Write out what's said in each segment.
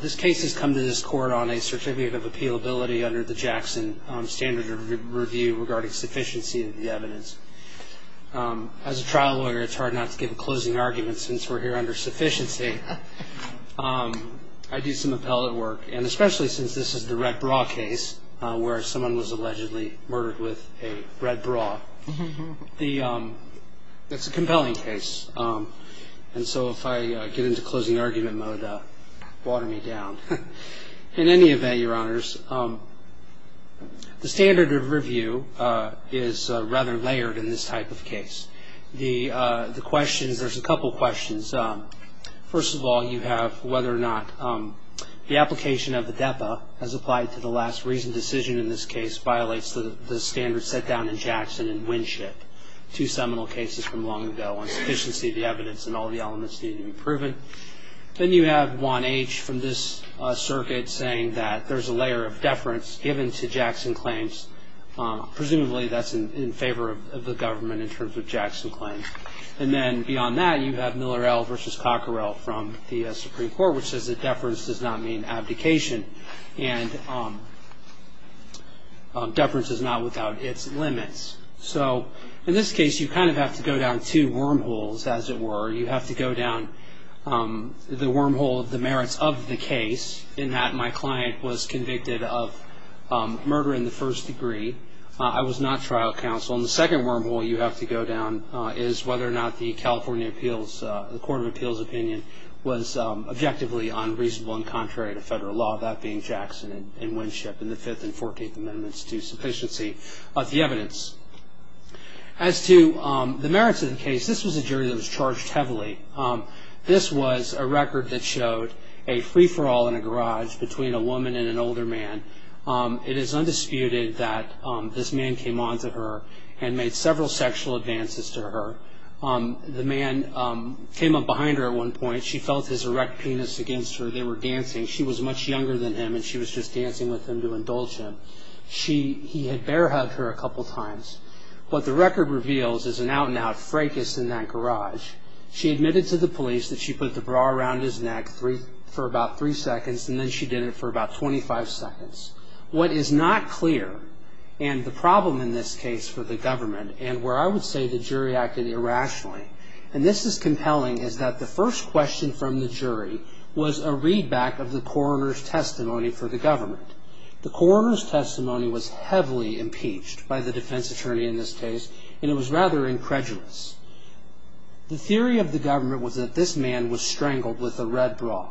This case has come to this Court on a Certificate of Appealability under the Jackson Standard Review regarding sufficiency of the evidence. As a trial lawyer, it's hard not to give a closing argument since we're here under sufficiency. I do some appellate work, and especially since this is the red bra case where someone was allegedly murdered with a red bra. It's a compelling case, and so if I get into closing argument mode, water me down. In any event, Your Honors, the standard of review is rather layered in this type of case. There's a couple questions. First of all, you have whether or not the application of the DEPA as applied to the last reasoned decision in this case violates the standards set down in Jackson and Winship, two seminal cases from long ago on sufficiency of the evidence and all the elements needed to be proven. Then you have Juan H. from this circuit saying that there's a layer of deference given to Jackson claims. Presumably that's in favor of the government in terms of Jackson claims. And then beyond that, you have Miller L. v. Cockerell from the Supreme Court, which says that deference does not mean abdication. And deference is not without its limits. So in this case, you kind of have to go down two wormholes, as it were. You have to go down the wormhole of the merits of the case, in that my client was convicted of murder in the first degree. I was not trial counsel. And the second wormhole you have to go down is whether or not the California appeals, the Court of Appeals opinion, was objectively unreasonable and contrary to federal law, that being Jackson and Winship in the Fifth and Fourteenth Amendments to sufficiency of the evidence. As to the merits of the case, this was a jury that was charged heavily. This was a record that showed a free-for-all in a garage between a woman and an older man. It is undisputed that this man came on to her and made several sexual advances to her. The man came up behind her at one point. She felt his erect penis against her. They were dancing. She was much younger than him, and she was just dancing with him to indulge him. He had bear hugged her a couple times. What the record reveals is an out-and-out fracas in that garage. She admitted to the police that she put the bra around his neck for about three seconds, and then she did it for about 25 seconds. What is not clear, and the problem in this case for the government, and where I would say the jury acted irrationally, and this is compelling, is that the first question from the jury was a readback of the coroner's testimony for the government. The coroner's testimony was heavily impeached by the defense attorney in this case, and it was rather incredulous. The theory of the government was that this man was strangled with a red bra.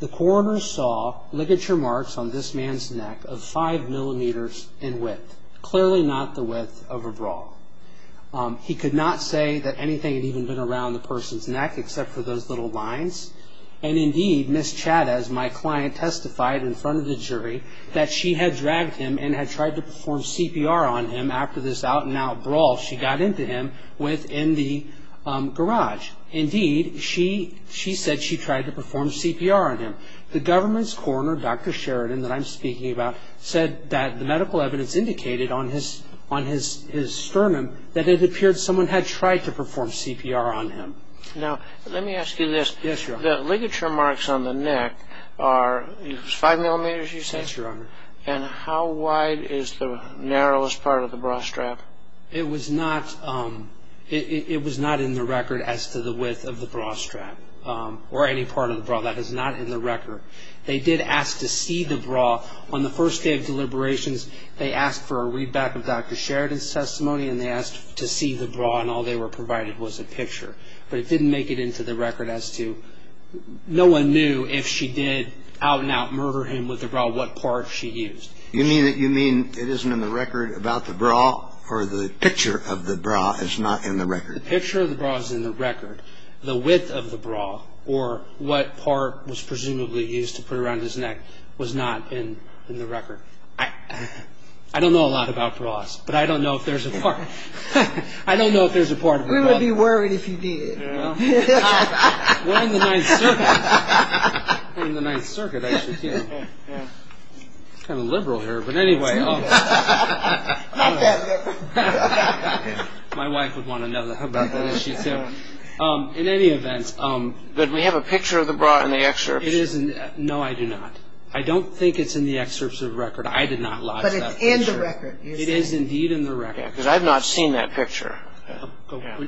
The coroner saw ligature marks on this man's neck of five millimeters in width, clearly not the width of a bra. He could not say that anything had even been around the person's neck except for those little lines, and, indeed, Ms. Chavez, my client, testified in front of the jury that she had dragged him and had tried to perform CPR on him after this out-and-out brawl she got into him with in the garage. Indeed, she said she tried to perform CPR on him. The government's coroner, Dr. Sheridan, that I'm speaking about, said that the medical evidence indicated on his sternum that it appeared someone had tried to perform CPR on him. Now, let me ask you this. Yes, Your Honor. The ligature marks on the neck are five millimeters, you say? Yes, Your Honor. And how wide is the narrowest part of the bra strap? It was not in the record as to the width of the bra strap or any part of the bra. That is not in the record. They did ask to see the bra. On the first day of deliberations, they asked for a readback of Dr. Sheridan's testimony, and they asked to see the bra, and all they were provided was a picture. But it didn't make it into the record as to no one knew if she did out-and-out murder him with the bra, what part she used. You mean it isn't in the record about the bra or the picture of the bra is not in the record? The picture of the bra is in the record. The width of the bra or what part was presumably used to put around his neck was not in the record. I don't know a lot about bras, but I don't know if there's a part. We would be worried if you did. We're in the Ninth Circuit. We're in the Ninth Circuit, actually, too. It's kind of liberal here, but anyway. Not that liberal. My wife would want to know how about that. In any event. Did we have a picture of the bra in the excerpt? No, I do not. I don't think it's in the excerpts of the record. I did not lodge that picture. But it's in the record. It is indeed in the record. Because I've not seen that picture.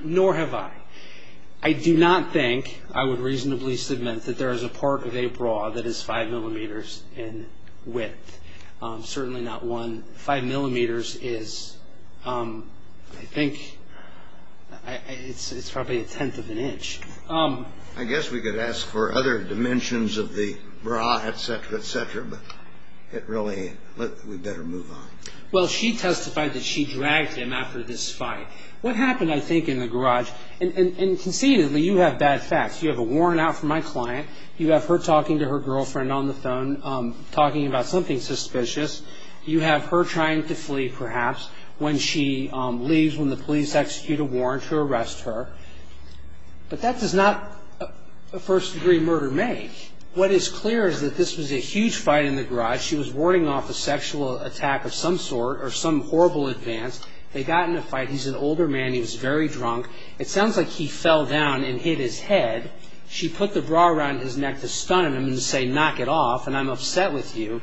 Nor have I. I do not think I would reasonably submit that there is a part of a bra that is five millimeters in width. Certainly not one. Five millimeters is, I think, it's probably a tenth of an inch. I guess we could ask for other dimensions of the bra, et cetera, et cetera. But it really, we better move on. Well, she testified that she dragged him after this fight. What happened, I think, in the garage, and conceitedly, you have bad facts. You have a warrant out for my client. You have her talking to her girlfriend on the phone, talking about something suspicious. You have her trying to flee, perhaps, when she leaves, when the police execute a warrant to arrest her. But that does not a first-degree murder make. She testified she was warding off a sexual attack of some sort, or some horrible advance. They got in a fight. He's an older man. He was very drunk. It sounds like he fell down and hit his head. She put the bra around his neck to stun him and say, knock it off, and I'm upset with you.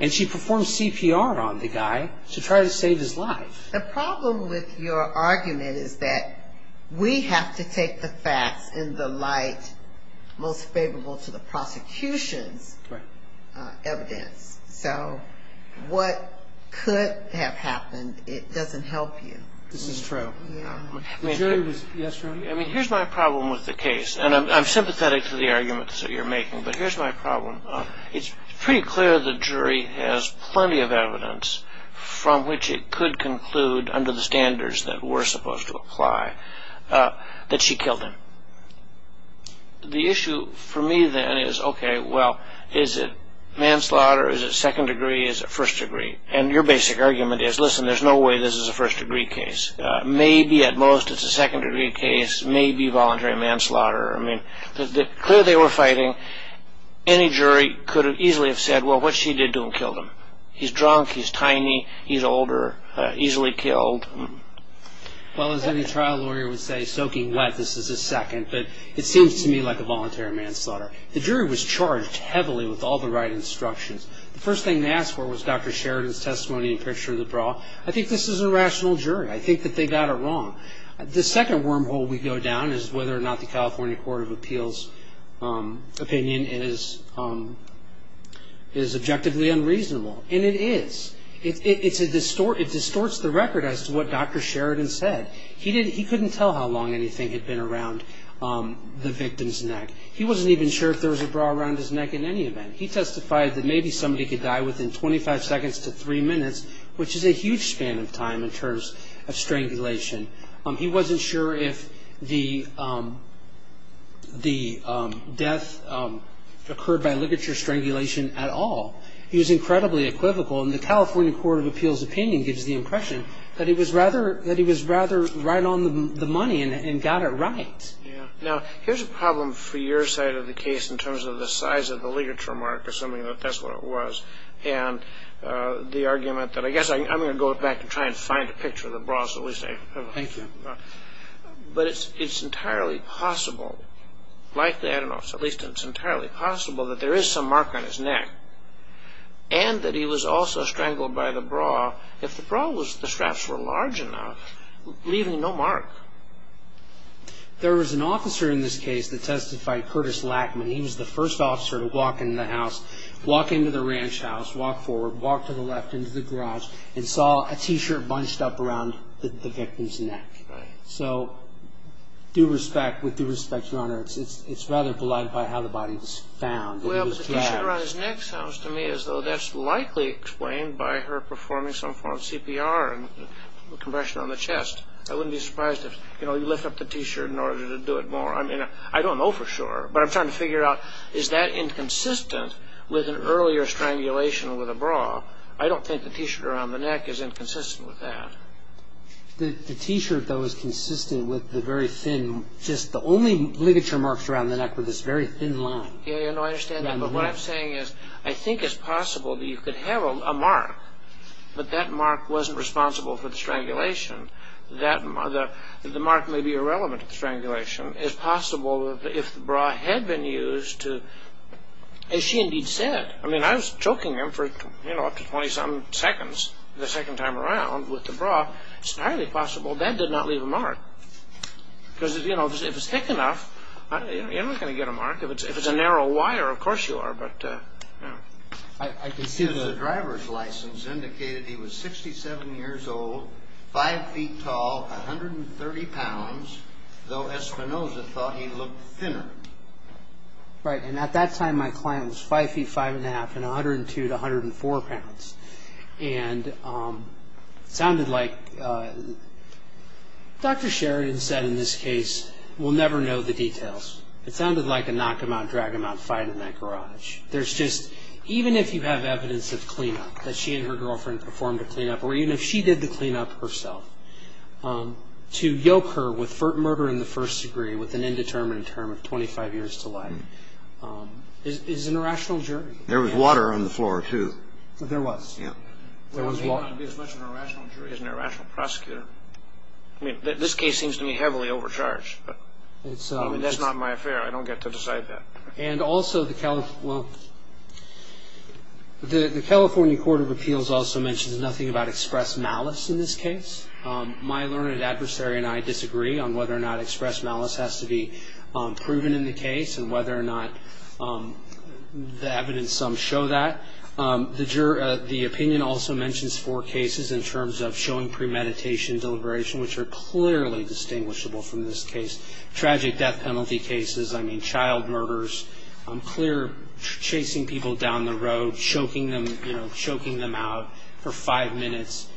And she performed CPR on the guy to try to save his life. The problem with your argument is that we have to take the facts in the light most favorable to the prosecution's evidence. So what could have happened, it doesn't help you. This is true. The jury was, yes, Roni? I mean, here's my problem with the case, and I'm sympathetic to the arguments that you're making, but here's my problem. It's pretty clear the jury has plenty of evidence from which it could conclude, under the standards that were supposed to apply, that she killed him. The issue for me, then, is, okay, well, is it manslaughter, is it second degree, is it first degree? And your basic argument is, listen, there's no way this is a first-degree case. Maybe at most it's a second-degree case, maybe voluntary manslaughter. I mean, clearly they were fighting. Any jury could easily have said, well, what she did to him killed him. He's drunk, he's tiny, he's older, easily killed. Well, as any trial lawyer would say, soaking wet, this is a second. But it seems to me like a voluntary manslaughter. The jury was charged heavily with all the right instructions. The first thing they asked for was Dr. Sheridan's testimony and picture of the bra. I think that they got it wrong. The second wormhole we go down is whether or not the California Court of Appeals' opinion is objectively unreasonable. And it is. It distorts the record as to what Dr. Sheridan said. He couldn't tell how long anything had been around the victim's neck. He wasn't even sure if there was a bra around his neck in any event. He testified that maybe somebody could die within 25 seconds to three minutes, which is a huge span of time in terms of strangulation. He wasn't sure if the death occurred by ligature strangulation at all. He was incredibly equivocal. And the California Court of Appeals' opinion gives the impression that he was rather right on the money and got it right. Now, here's a problem for your side of the case in terms of the size of the ligature mark, assuming that that's what it was, and the argument that, I guess I'm going to go back and try and find a picture of the bra. Thank you. But it's entirely possible, likely, I don't know, at least it's entirely possible that there is some mark on his neck and that he was also strangled by the bra. If the bra was, the straps were large enough, leaving no mark. There was an officer in this case that testified, Curtis Lackman. He was the first officer to walk into the house, walk into the ranch house, walk forward, walk to the left into the garage, and saw a T-shirt bunched up around the victim's neck. So with due respect, Your Honor, it's rather belied by how the body was found. Well, but the T-shirt around his neck sounds to me as though that's likely explained by her performing some form of CPR and compression on the chest. I wouldn't be surprised if, you know, you lift up the T-shirt in order to do it more. I mean, I don't know for sure, but I'm trying to figure out is that inconsistent with an earlier strangulation with a bra. I don't think the T-shirt around the neck is inconsistent with that. The T-shirt, though, is consistent with the very thin, just the only ligature marks around the neck with this very thin line. Yeah, I understand that. But what I'm saying is I think it's possible that you could have a mark, but that mark wasn't responsible for the strangulation. The mark may be irrelevant to the strangulation. It's possible that if the bra had been used to, as she indeed said, I mean, I was choking him for, you know, up to 20-some seconds the second time around with the bra. It's highly possible that did not leave a mark. Because, you know, if it's thick enough, you're not going to get a mark. If it's a narrow wire, of course you are, but, you know. The driver's license indicated he was 67 years old, 5 feet tall, 130 pounds, though Espinoza thought he looked thinner. Right, and at that time my client was 5 feet 5 1⁄2 and 102 to 104 pounds. And it sounded like, Dr. Sheridan said in this case, we'll never know the details. It sounded like a knock-em-out, drag-em-out fight in that garage. There's just, even if you have evidence of clean-up, that she and her girlfriend performed a clean-up, or even if she did the clean-up herself, to yoke her with murder in the first degree with an indeterminate term of 25 years to life, is an irrational jury. There was water on the floor, too. There was. There was water. I would be as much an irrational jury as an irrational prosecutor. I mean, this case seems to me heavily overcharged. I mean, that's not my affair. I don't get to decide that. And also the California Court of Appeals also mentions nothing about express malice in this case. My learned adversary and I disagree on whether or not express malice has to be proven in the case and whether or not the evidence some show that. The opinion also mentions four cases in terms of showing premeditation and deliberation, which are clearly distinguishable from this case. Tragic death penalty cases. I mean, child murders. Clear chasing people down the road, choking them out for five minutes.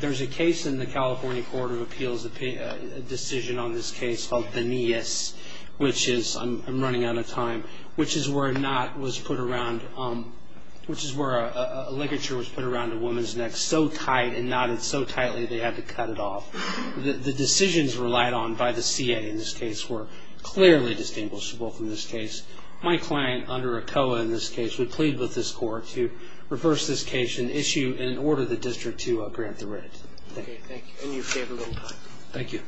There's a case in the California Court of Appeals, a decision on this case called Benias, which is, I'm running out of time, which is where a knot was put around, which is where a ligature was put around a woman's neck so tight and knotted so tightly they had to cut it off. The decisions relied on by the CA in this case were clearly distinguishable from this case. My client, under ACOA in this case, would plead with this court to reverse this case and issue an order to the district to grant the right. Thank you. Thank you. Thank you.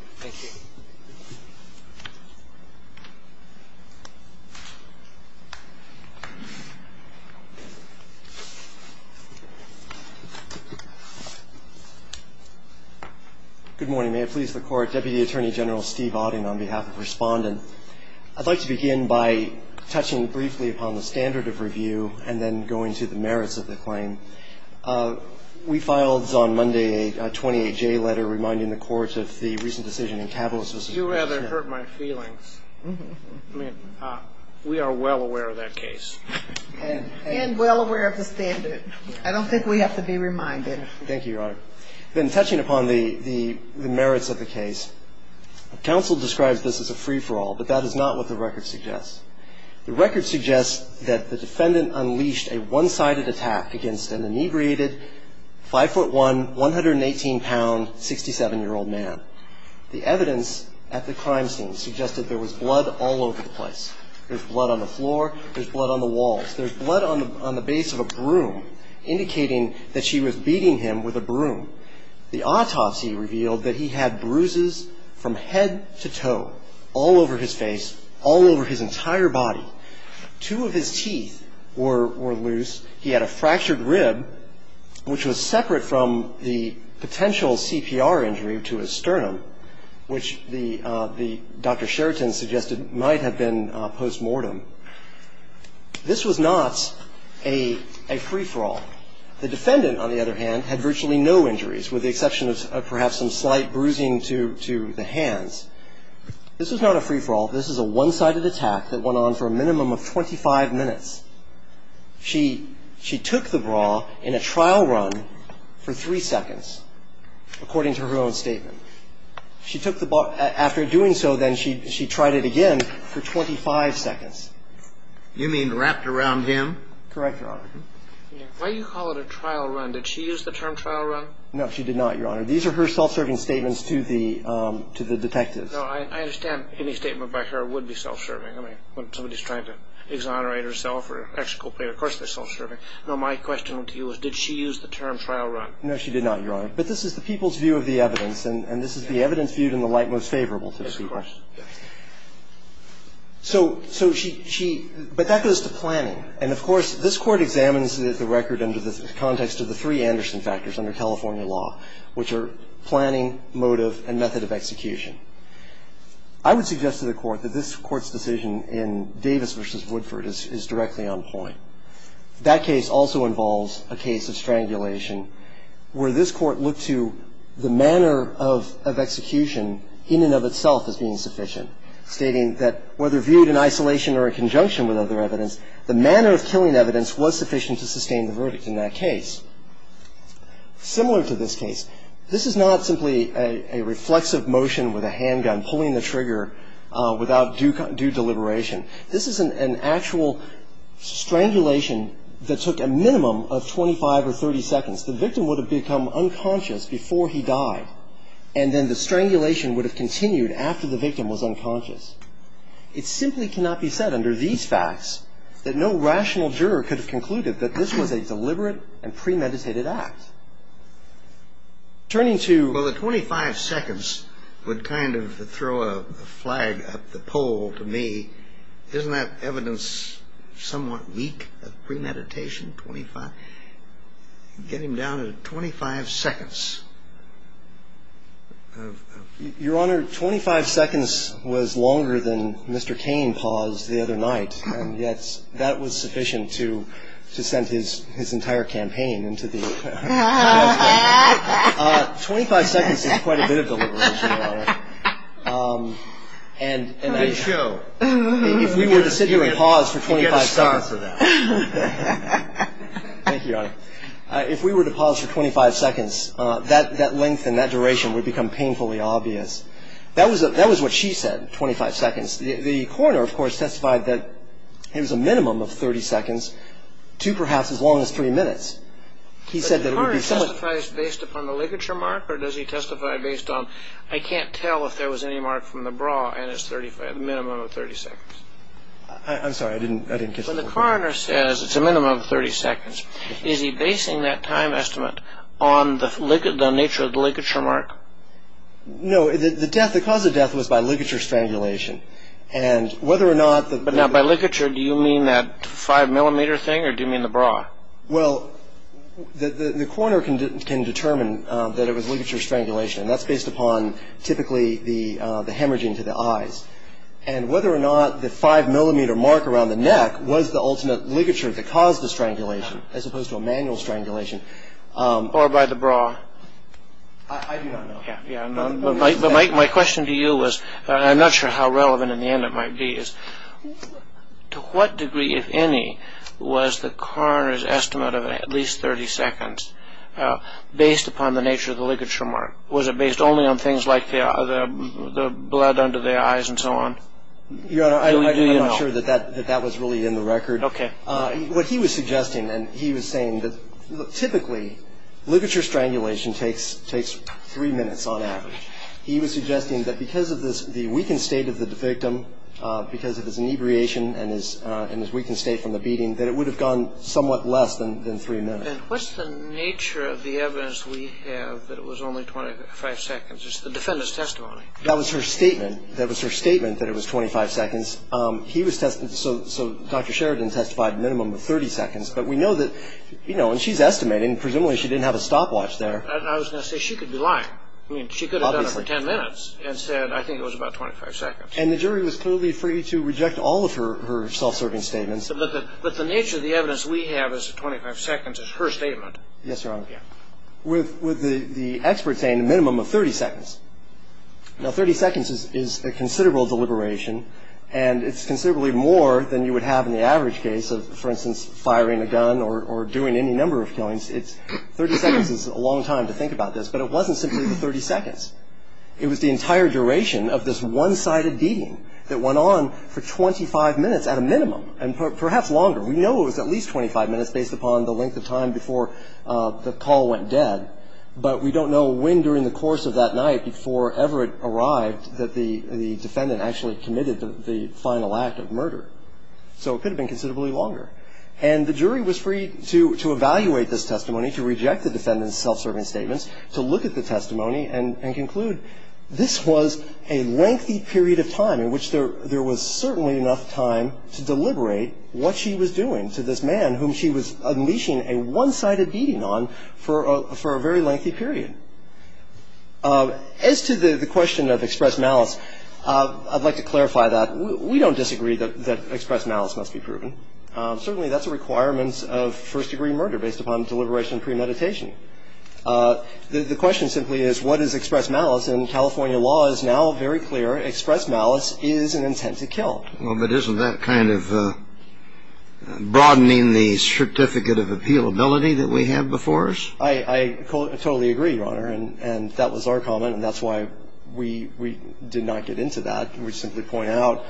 Good morning. May it please the Court. Deputy Attorney General Steve Auden on behalf of Respondent. I'd like to begin by touching briefly upon the standard of review and then going to the merits of the claim. We filed on Monday a 28-J letter reminding the courts of the recent decision in Cabellus v. You rather hurt my feelings. I mean, we are well aware of that case. And well aware of the standard. I don't think we have to be reminded. Thank you, Your Honor. Then touching upon the merits of the case, counsel describes this as a free-for-all, but that is not what the record suggests. The record suggests that the defendant unleashed a one-sided attack against an inebriated 5'1", 118-pound, 67-year-old man. The evidence at the crime scene suggested there was blood all over the place. There's blood on the floor. There's blood on the walls. There's blood on the base of a broom, indicating that she was beating him with a broom. The autopsy revealed that he had bruises from head to toe all over his face, all over his entire body. Two of his teeth were loose. He had a fractured rib, which was separate from the potential CPR injury to his sternum, which Dr. Sheraton suggested might have been postmortem. This was not a free-for-all. The defendant, on the other hand, had virtually no injuries, with the exception of perhaps some slight bruising to the hands. This was not a free-for-all. This is a one-sided attack that went on for a minimum of 25 minutes. She took the bra in a trial run for three seconds, according to her own statement. She took the bra – after doing so, then, she tried it again for 25 seconds. You mean wrapped around him? Correct, Your Honor. Why do you call it a trial run? Did she use the term trial run? No, she did not, Your Honor. These are her self-serving statements to the detectives. No, I understand any statement by her would be self-serving. I mean, when somebody's trying to exonerate herself or exculpate, of course they're self-serving. No, my question to you is, did she use the term trial run? No, she did not, Your Honor. But this is the people's view of the evidence, and this is the evidence viewed in the light most favorable to the Supreme Court. So she – but that goes to planning. And, of course, this Court examines the record under the context of the three Anderson factors under California law, which are planning, motive, and method of execution. I would suggest to the Court that this Court's decision in Davis v. Woodford is directly on point. That case also involves a case of strangulation where this Court looked to the manner of execution in and of itself as being sufficient, stating that whether viewed in isolation or in conjunction with other evidence, the manner of killing evidence was sufficient to sustain the verdict in that case. Similar to this case, this is not simply a reflexive motion with a handgun, pulling the trigger without due deliberation. This is an actual strangulation that took a minimum of 25 or 30 seconds. The victim would have become unconscious before he died, and then the strangulation would have continued after the victim was unconscious. It simply cannot be said under these facts that no rational juror could have concluded that this was a deliberate and premeditated act. Turning to the 25 seconds would kind of throw a flag up the pole to me. Isn't that evidence somewhat weak of premeditation, 25? Get him down to 25 seconds. Your Honor, 25 seconds was longer than Mr. Cain paused the other night, and yet that was sufficient to send his entire campaign into the dustbin. Twenty-five seconds is quite a bit of deliberation, Your Honor. Let me show. If we were to sit here and pause for 25 seconds. Thank you, Your Honor. If we were to pause for 25 seconds, that length and that duration would become painfully obvious. That was what she said, 25 seconds. The coroner, of course, testified that it was a minimum of 30 seconds to perhaps as long as three minutes. But the coroner testifies based upon the ligature mark, or does he testify based on I can't tell if there was any mark from the bra and it's a minimum of 30 seconds? I'm sorry, I didn't catch that. When the coroner says it's a minimum of 30 seconds, is he basing that time estimate on the nature of the ligature mark? No, the death, the cause of death was by ligature strangulation. And whether or not the But now by ligature, do you mean that five millimeter thing or do you mean the bra? Well, the coroner can determine that it was ligature strangulation, and that's based upon typically the hemorrhaging to the eyes. And whether or not the five millimeter mark around the neck was the ultimate ligature that caused the strangulation as opposed to a manual strangulation Or by the bra. I do not know. But my question to you was, I'm not sure how relevant in the end it might be, is to what degree, if any, was the coroner's estimate of at least 30 seconds based upon the nature of the ligature mark? Was it based only on things like the blood under the eyes and so on? Your Honor, I'm not sure that that was really in the record. Okay. What he was suggesting, and he was saying that typically, ligature strangulation takes three minutes on average. He was suggesting that because of the weakened state of the victim, because of his inebriation and his weakened state from the beating, that it would have gone somewhat less than three minutes. Then what's the nature of the evidence we have that it was only 25 seconds? It's the defendant's testimony. That was her statement. That was her statement that it was 25 seconds. So Dr. Sheridan testified a minimum of 30 seconds. But we know that, you know, and she's estimating, presumably she didn't have a stopwatch there. I was going to say she could be lying. I mean, she could have done it for 10 minutes and said, I think it was about 25 seconds. And the jury was clearly free to reject all of her self-serving statements. But the nature of the evidence we have is that 25 seconds is her statement. Yes, Your Honor. With the expert saying a minimum of 30 seconds. Now, 30 seconds is a considerable deliberation. And it's considerably more than you would have in the average case of, for instance, firing a gun or doing any number of killings. 30 seconds is a long time to think about this. But it wasn't simply the 30 seconds. It was the entire duration of this one-sided beating that went on for 25 minutes at a minimum, and perhaps longer. We know it was at least 25 minutes based upon the length of time before the call went dead. But we don't know when during the course of that night, before ever it arrived, that the defendant actually committed the final act of murder. So it could have been considerably longer. And the jury was free to evaluate this testimony, to reject the defendant's self-serving statements, to look at the testimony and conclude this was a lengthy period of time in which there was certainly enough time to deliberate what she was doing to this man whom she was unleashing a one-sided beating on for a very lengthy period. As to the question of express malice, I'd like to clarify that. We don't disagree that express malice must be proven. Certainly that's a requirement of first-degree murder based upon deliberation premeditation. The question simply is what is express malice? And California law is now very clear. Express malice is an intent to kill. And I think there is a reasonable doubt, and I think it's a reasonable doubt that the first-degree murder was the one that was involved. Well, but isn't that kind of broadening the certificate of appealability that we have before us? I totally agree, Your Honor. And that was our comment. And that's why we did not get into that. We simply point out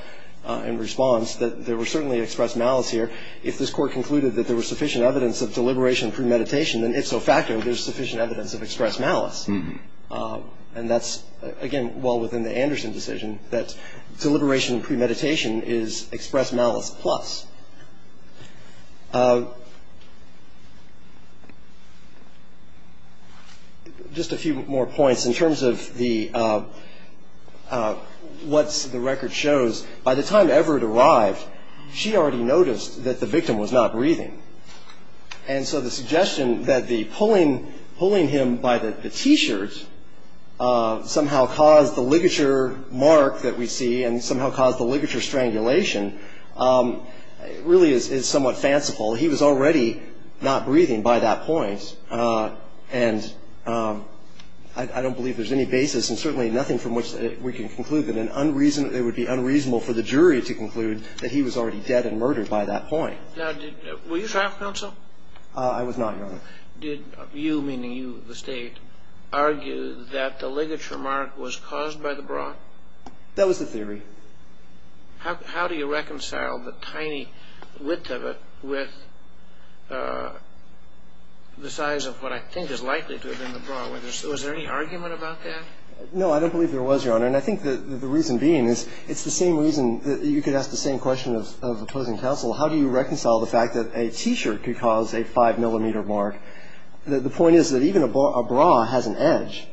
in response that there was certainly express malice here. If this Court concluded that there was sufficient evidence of deliberation premeditation, then if so factored, there's sufficient evidence of express malice. And that's, again, well within the Anderson decision, that deliberation premeditation is express malice plus. Just a few more points. In terms of what the record shows, by the time Everett arrived, she already noticed that the victim was not breathing. And so the suggestion that the pulling him by the T-shirt somehow caused the ligature mark that we see and somehow caused the ligature strangulation really is somewhat fanciful. He was already not breathing by that point. And I don't believe there's any basis and certainly nothing from which we can conclude that it would be unreasonable for the jury to conclude that he was already dead and murdered by that point. Now, were you trial counsel? I was not, Your Honor. Did you, meaning you, the State, argue that the ligature mark was caused by the bra? That was the theory. How do you reconcile the tiny width of it with the size of what I think is likely to have been the bra? Was there any argument about that? No, I don't believe there was, Your Honor. And I think the reason being is it's the same reason that you could ask the same question of opposing counsel. How do you reconcile the fact that a T-shirt could cause a 5-millimeter mark? The point is that even a bra has an edge.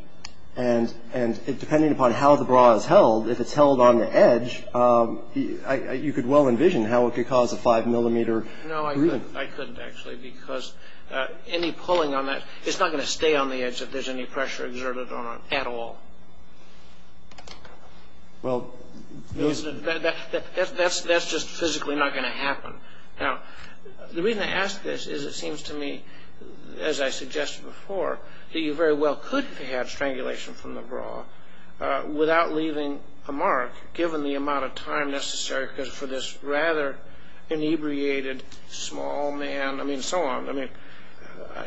And depending upon how the bra is held, if it's held on the edge, you could well envision how it could cause a 5-millimeter bruise. No, I couldn't, actually, because any pulling on that, it's not going to stay on the edge if there's any pressure exerted on it at all. That's just physically not going to happen. Now, the reason I ask this is it seems to me, as I suggested before, that you very well could have had strangulation from the bra without leaving a mark, given the amount of time necessary for this rather inebriated small man, I mean, so on. I mean,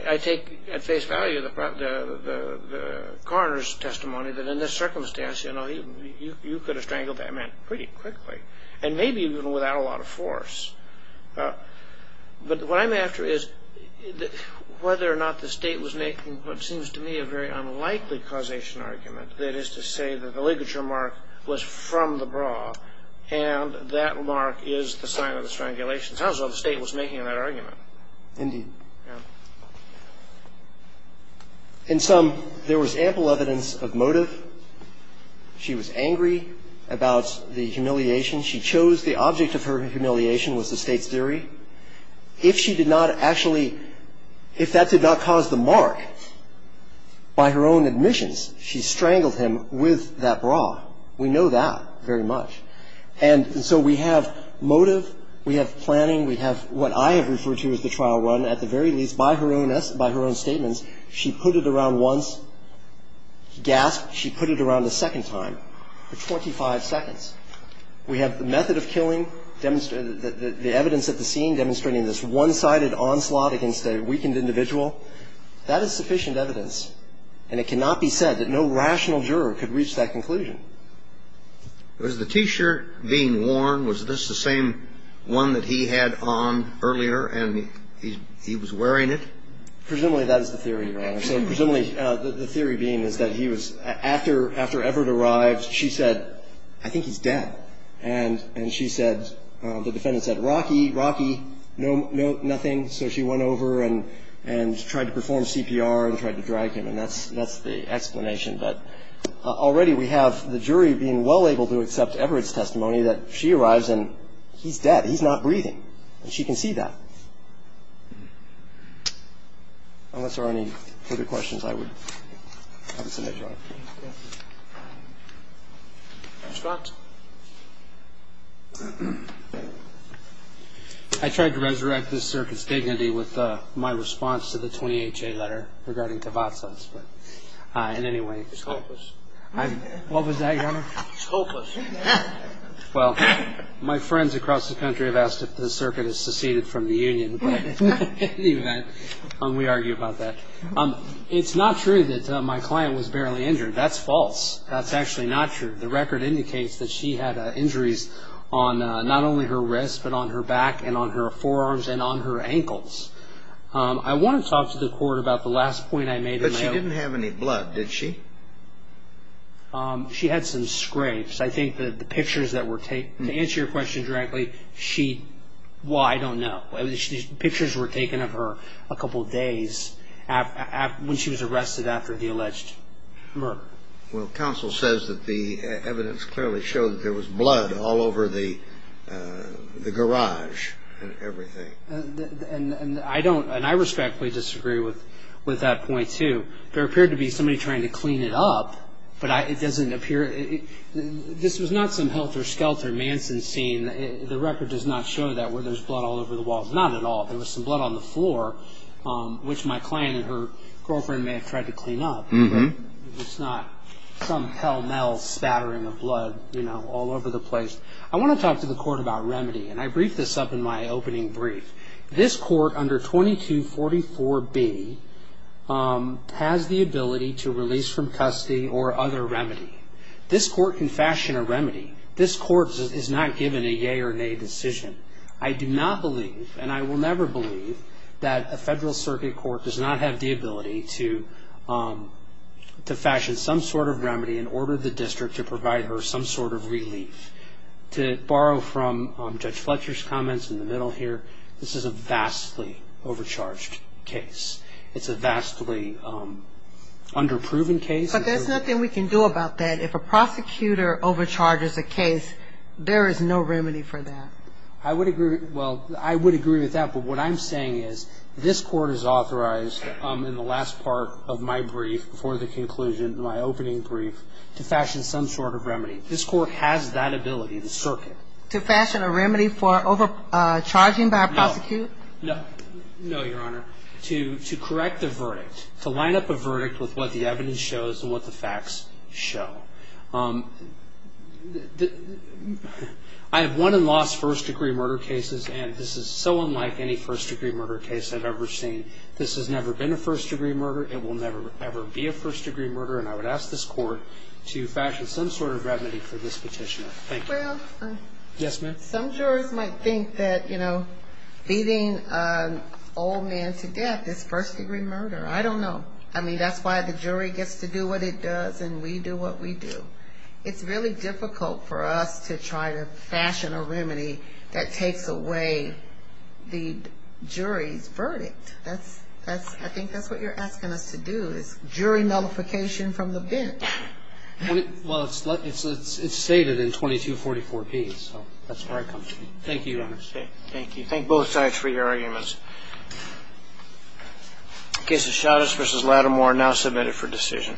I take at face value the coroner's testimony that in this circumstance, you know, you could have strangled that man pretty quickly, and maybe even without a lot of force. But what I'm after is whether or not the State was making what seems to me a very unlikely causation argument, that is to say that the ligature mark was from the bra, and that mark is the sign of the strangulation. It sounds as though the State was making that argument. Indeed. Yeah. In sum, there was ample evidence of motive. She was angry about the humiliation. She chose the object of her humiliation was the State's theory. If she did not actually, if that did not cause the mark by her own admissions, she strangled him with that bra. We know that very much. And so we have motive. We have planning. We have what I have referred to as the trial run. At the very least, by her own statements, she put it around once, gasped. She put it around a second time for 25 seconds. We have the method of killing, the evidence at the scene demonstrating this one-sided onslaught against a weakened individual. That is sufficient evidence, and it cannot be said that no rational juror could reach that conclusion. Was the T-shirt being worn, was this the same one that he had on earlier and he was wearing it? Presumably that is the theory, Your Honor. So presumably the theory being is that he was, after Everett arrived, she said, I think he's dead. And she said, the defendant said, Rocky, Rocky, nothing. So she went over and tried to perform CPR and tried to drag him. And that's the explanation. But already we have the jury being well able to accept Everett's testimony that she arrives and he's dead. He's not breathing. And she can see that. Unless there are any further questions, I would have a senator on it. Your response? I tried to resurrect this circuit's dignity with my response to the 20HA letter regarding Tavazos. But in any way, it's hopeless. It's hopeless. Well, my friends across the country have asked if the circuit has seceded from the union. But in any event, we argue about that. It's not true that my client was barely injured. That's false. That's actually not true. The record indicates that she had injuries on not only her wrist, but on her back and on her forearms and on her ankles. I want to talk to the Court about the last point I made. But she didn't have any blood, did she? She had some scrapes. To answer your question directly, well, I don't know. Pictures were taken of her a couple of days when she was arrested after the alleged murder. Well, counsel says that the evidence clearly showed that there was blood all over the garage and everything. And I respectfully disagree with that point, too. There appeared to be somebody trying to clean it up. But it doesn't appear – this was not some Helter Skelter Manson scene. The record does not show that, where there's blood all over the wall. Not at all. There was some blood on the floor, which my client and her girlfriend may have tried to clean up. It's not some hell metal spattering of blood, you know, all over the place. I want to talk to the Court about remedy. And I briefed this up in my opening brief. This Court, under 2244B, has the ability to release from custody or other remedy. This Court can fashion a remedy. This Court is not given a yea or nay decision. I do not believe, and I will never believe, that a federal circuit court does not have the ability to fashion some sort of remedy and order the district to provide her some sort of relief. To borrow from Judge Fletcher's comments in the middle here, this is a vastly overcharged case. It's a vastly underproven case. But there's nothing we can do about that. If a prosecutor overcharges a case, there is no remedy for that. I would agree – well, I would agree with that. But what I'm saying is this Court is authorized in the last part of my brief, before the conclusion, my opening brief, to fashion some sort of remedy. This Court has that ability, the circuit. To fashion a remedy for overcharging by a prosecutor? No. No, Your Honor. To correct the verdict, to line up a verdict with what the evidence shows and what the facts show. I have won and lost first-degree murder cases, and this is so unlike any first-degree murder case I've ever seen. This has never been a first-degree murder. It will never, ever be a first-degree murder. And I would ask this Court to fashion some sort of remedy for this petitioner. Thank you. Well, some jurors might think that, you know, beating an old man to death is first-degree murder. I don't know. I mean, that's why the jury gets to do what it does and we do what we do. It's really difficult for us to try to fashion a remedy that takes away the jury's verdict. I think that's what you're asking us to do. It's jury nullification from the bench. Well, it's stated in 2244B, so that's where I come from. Thank you, Your Honor. Thank you. Thank both sides for your arguments. The case of Chavez v. Lattimore now submitted for decision.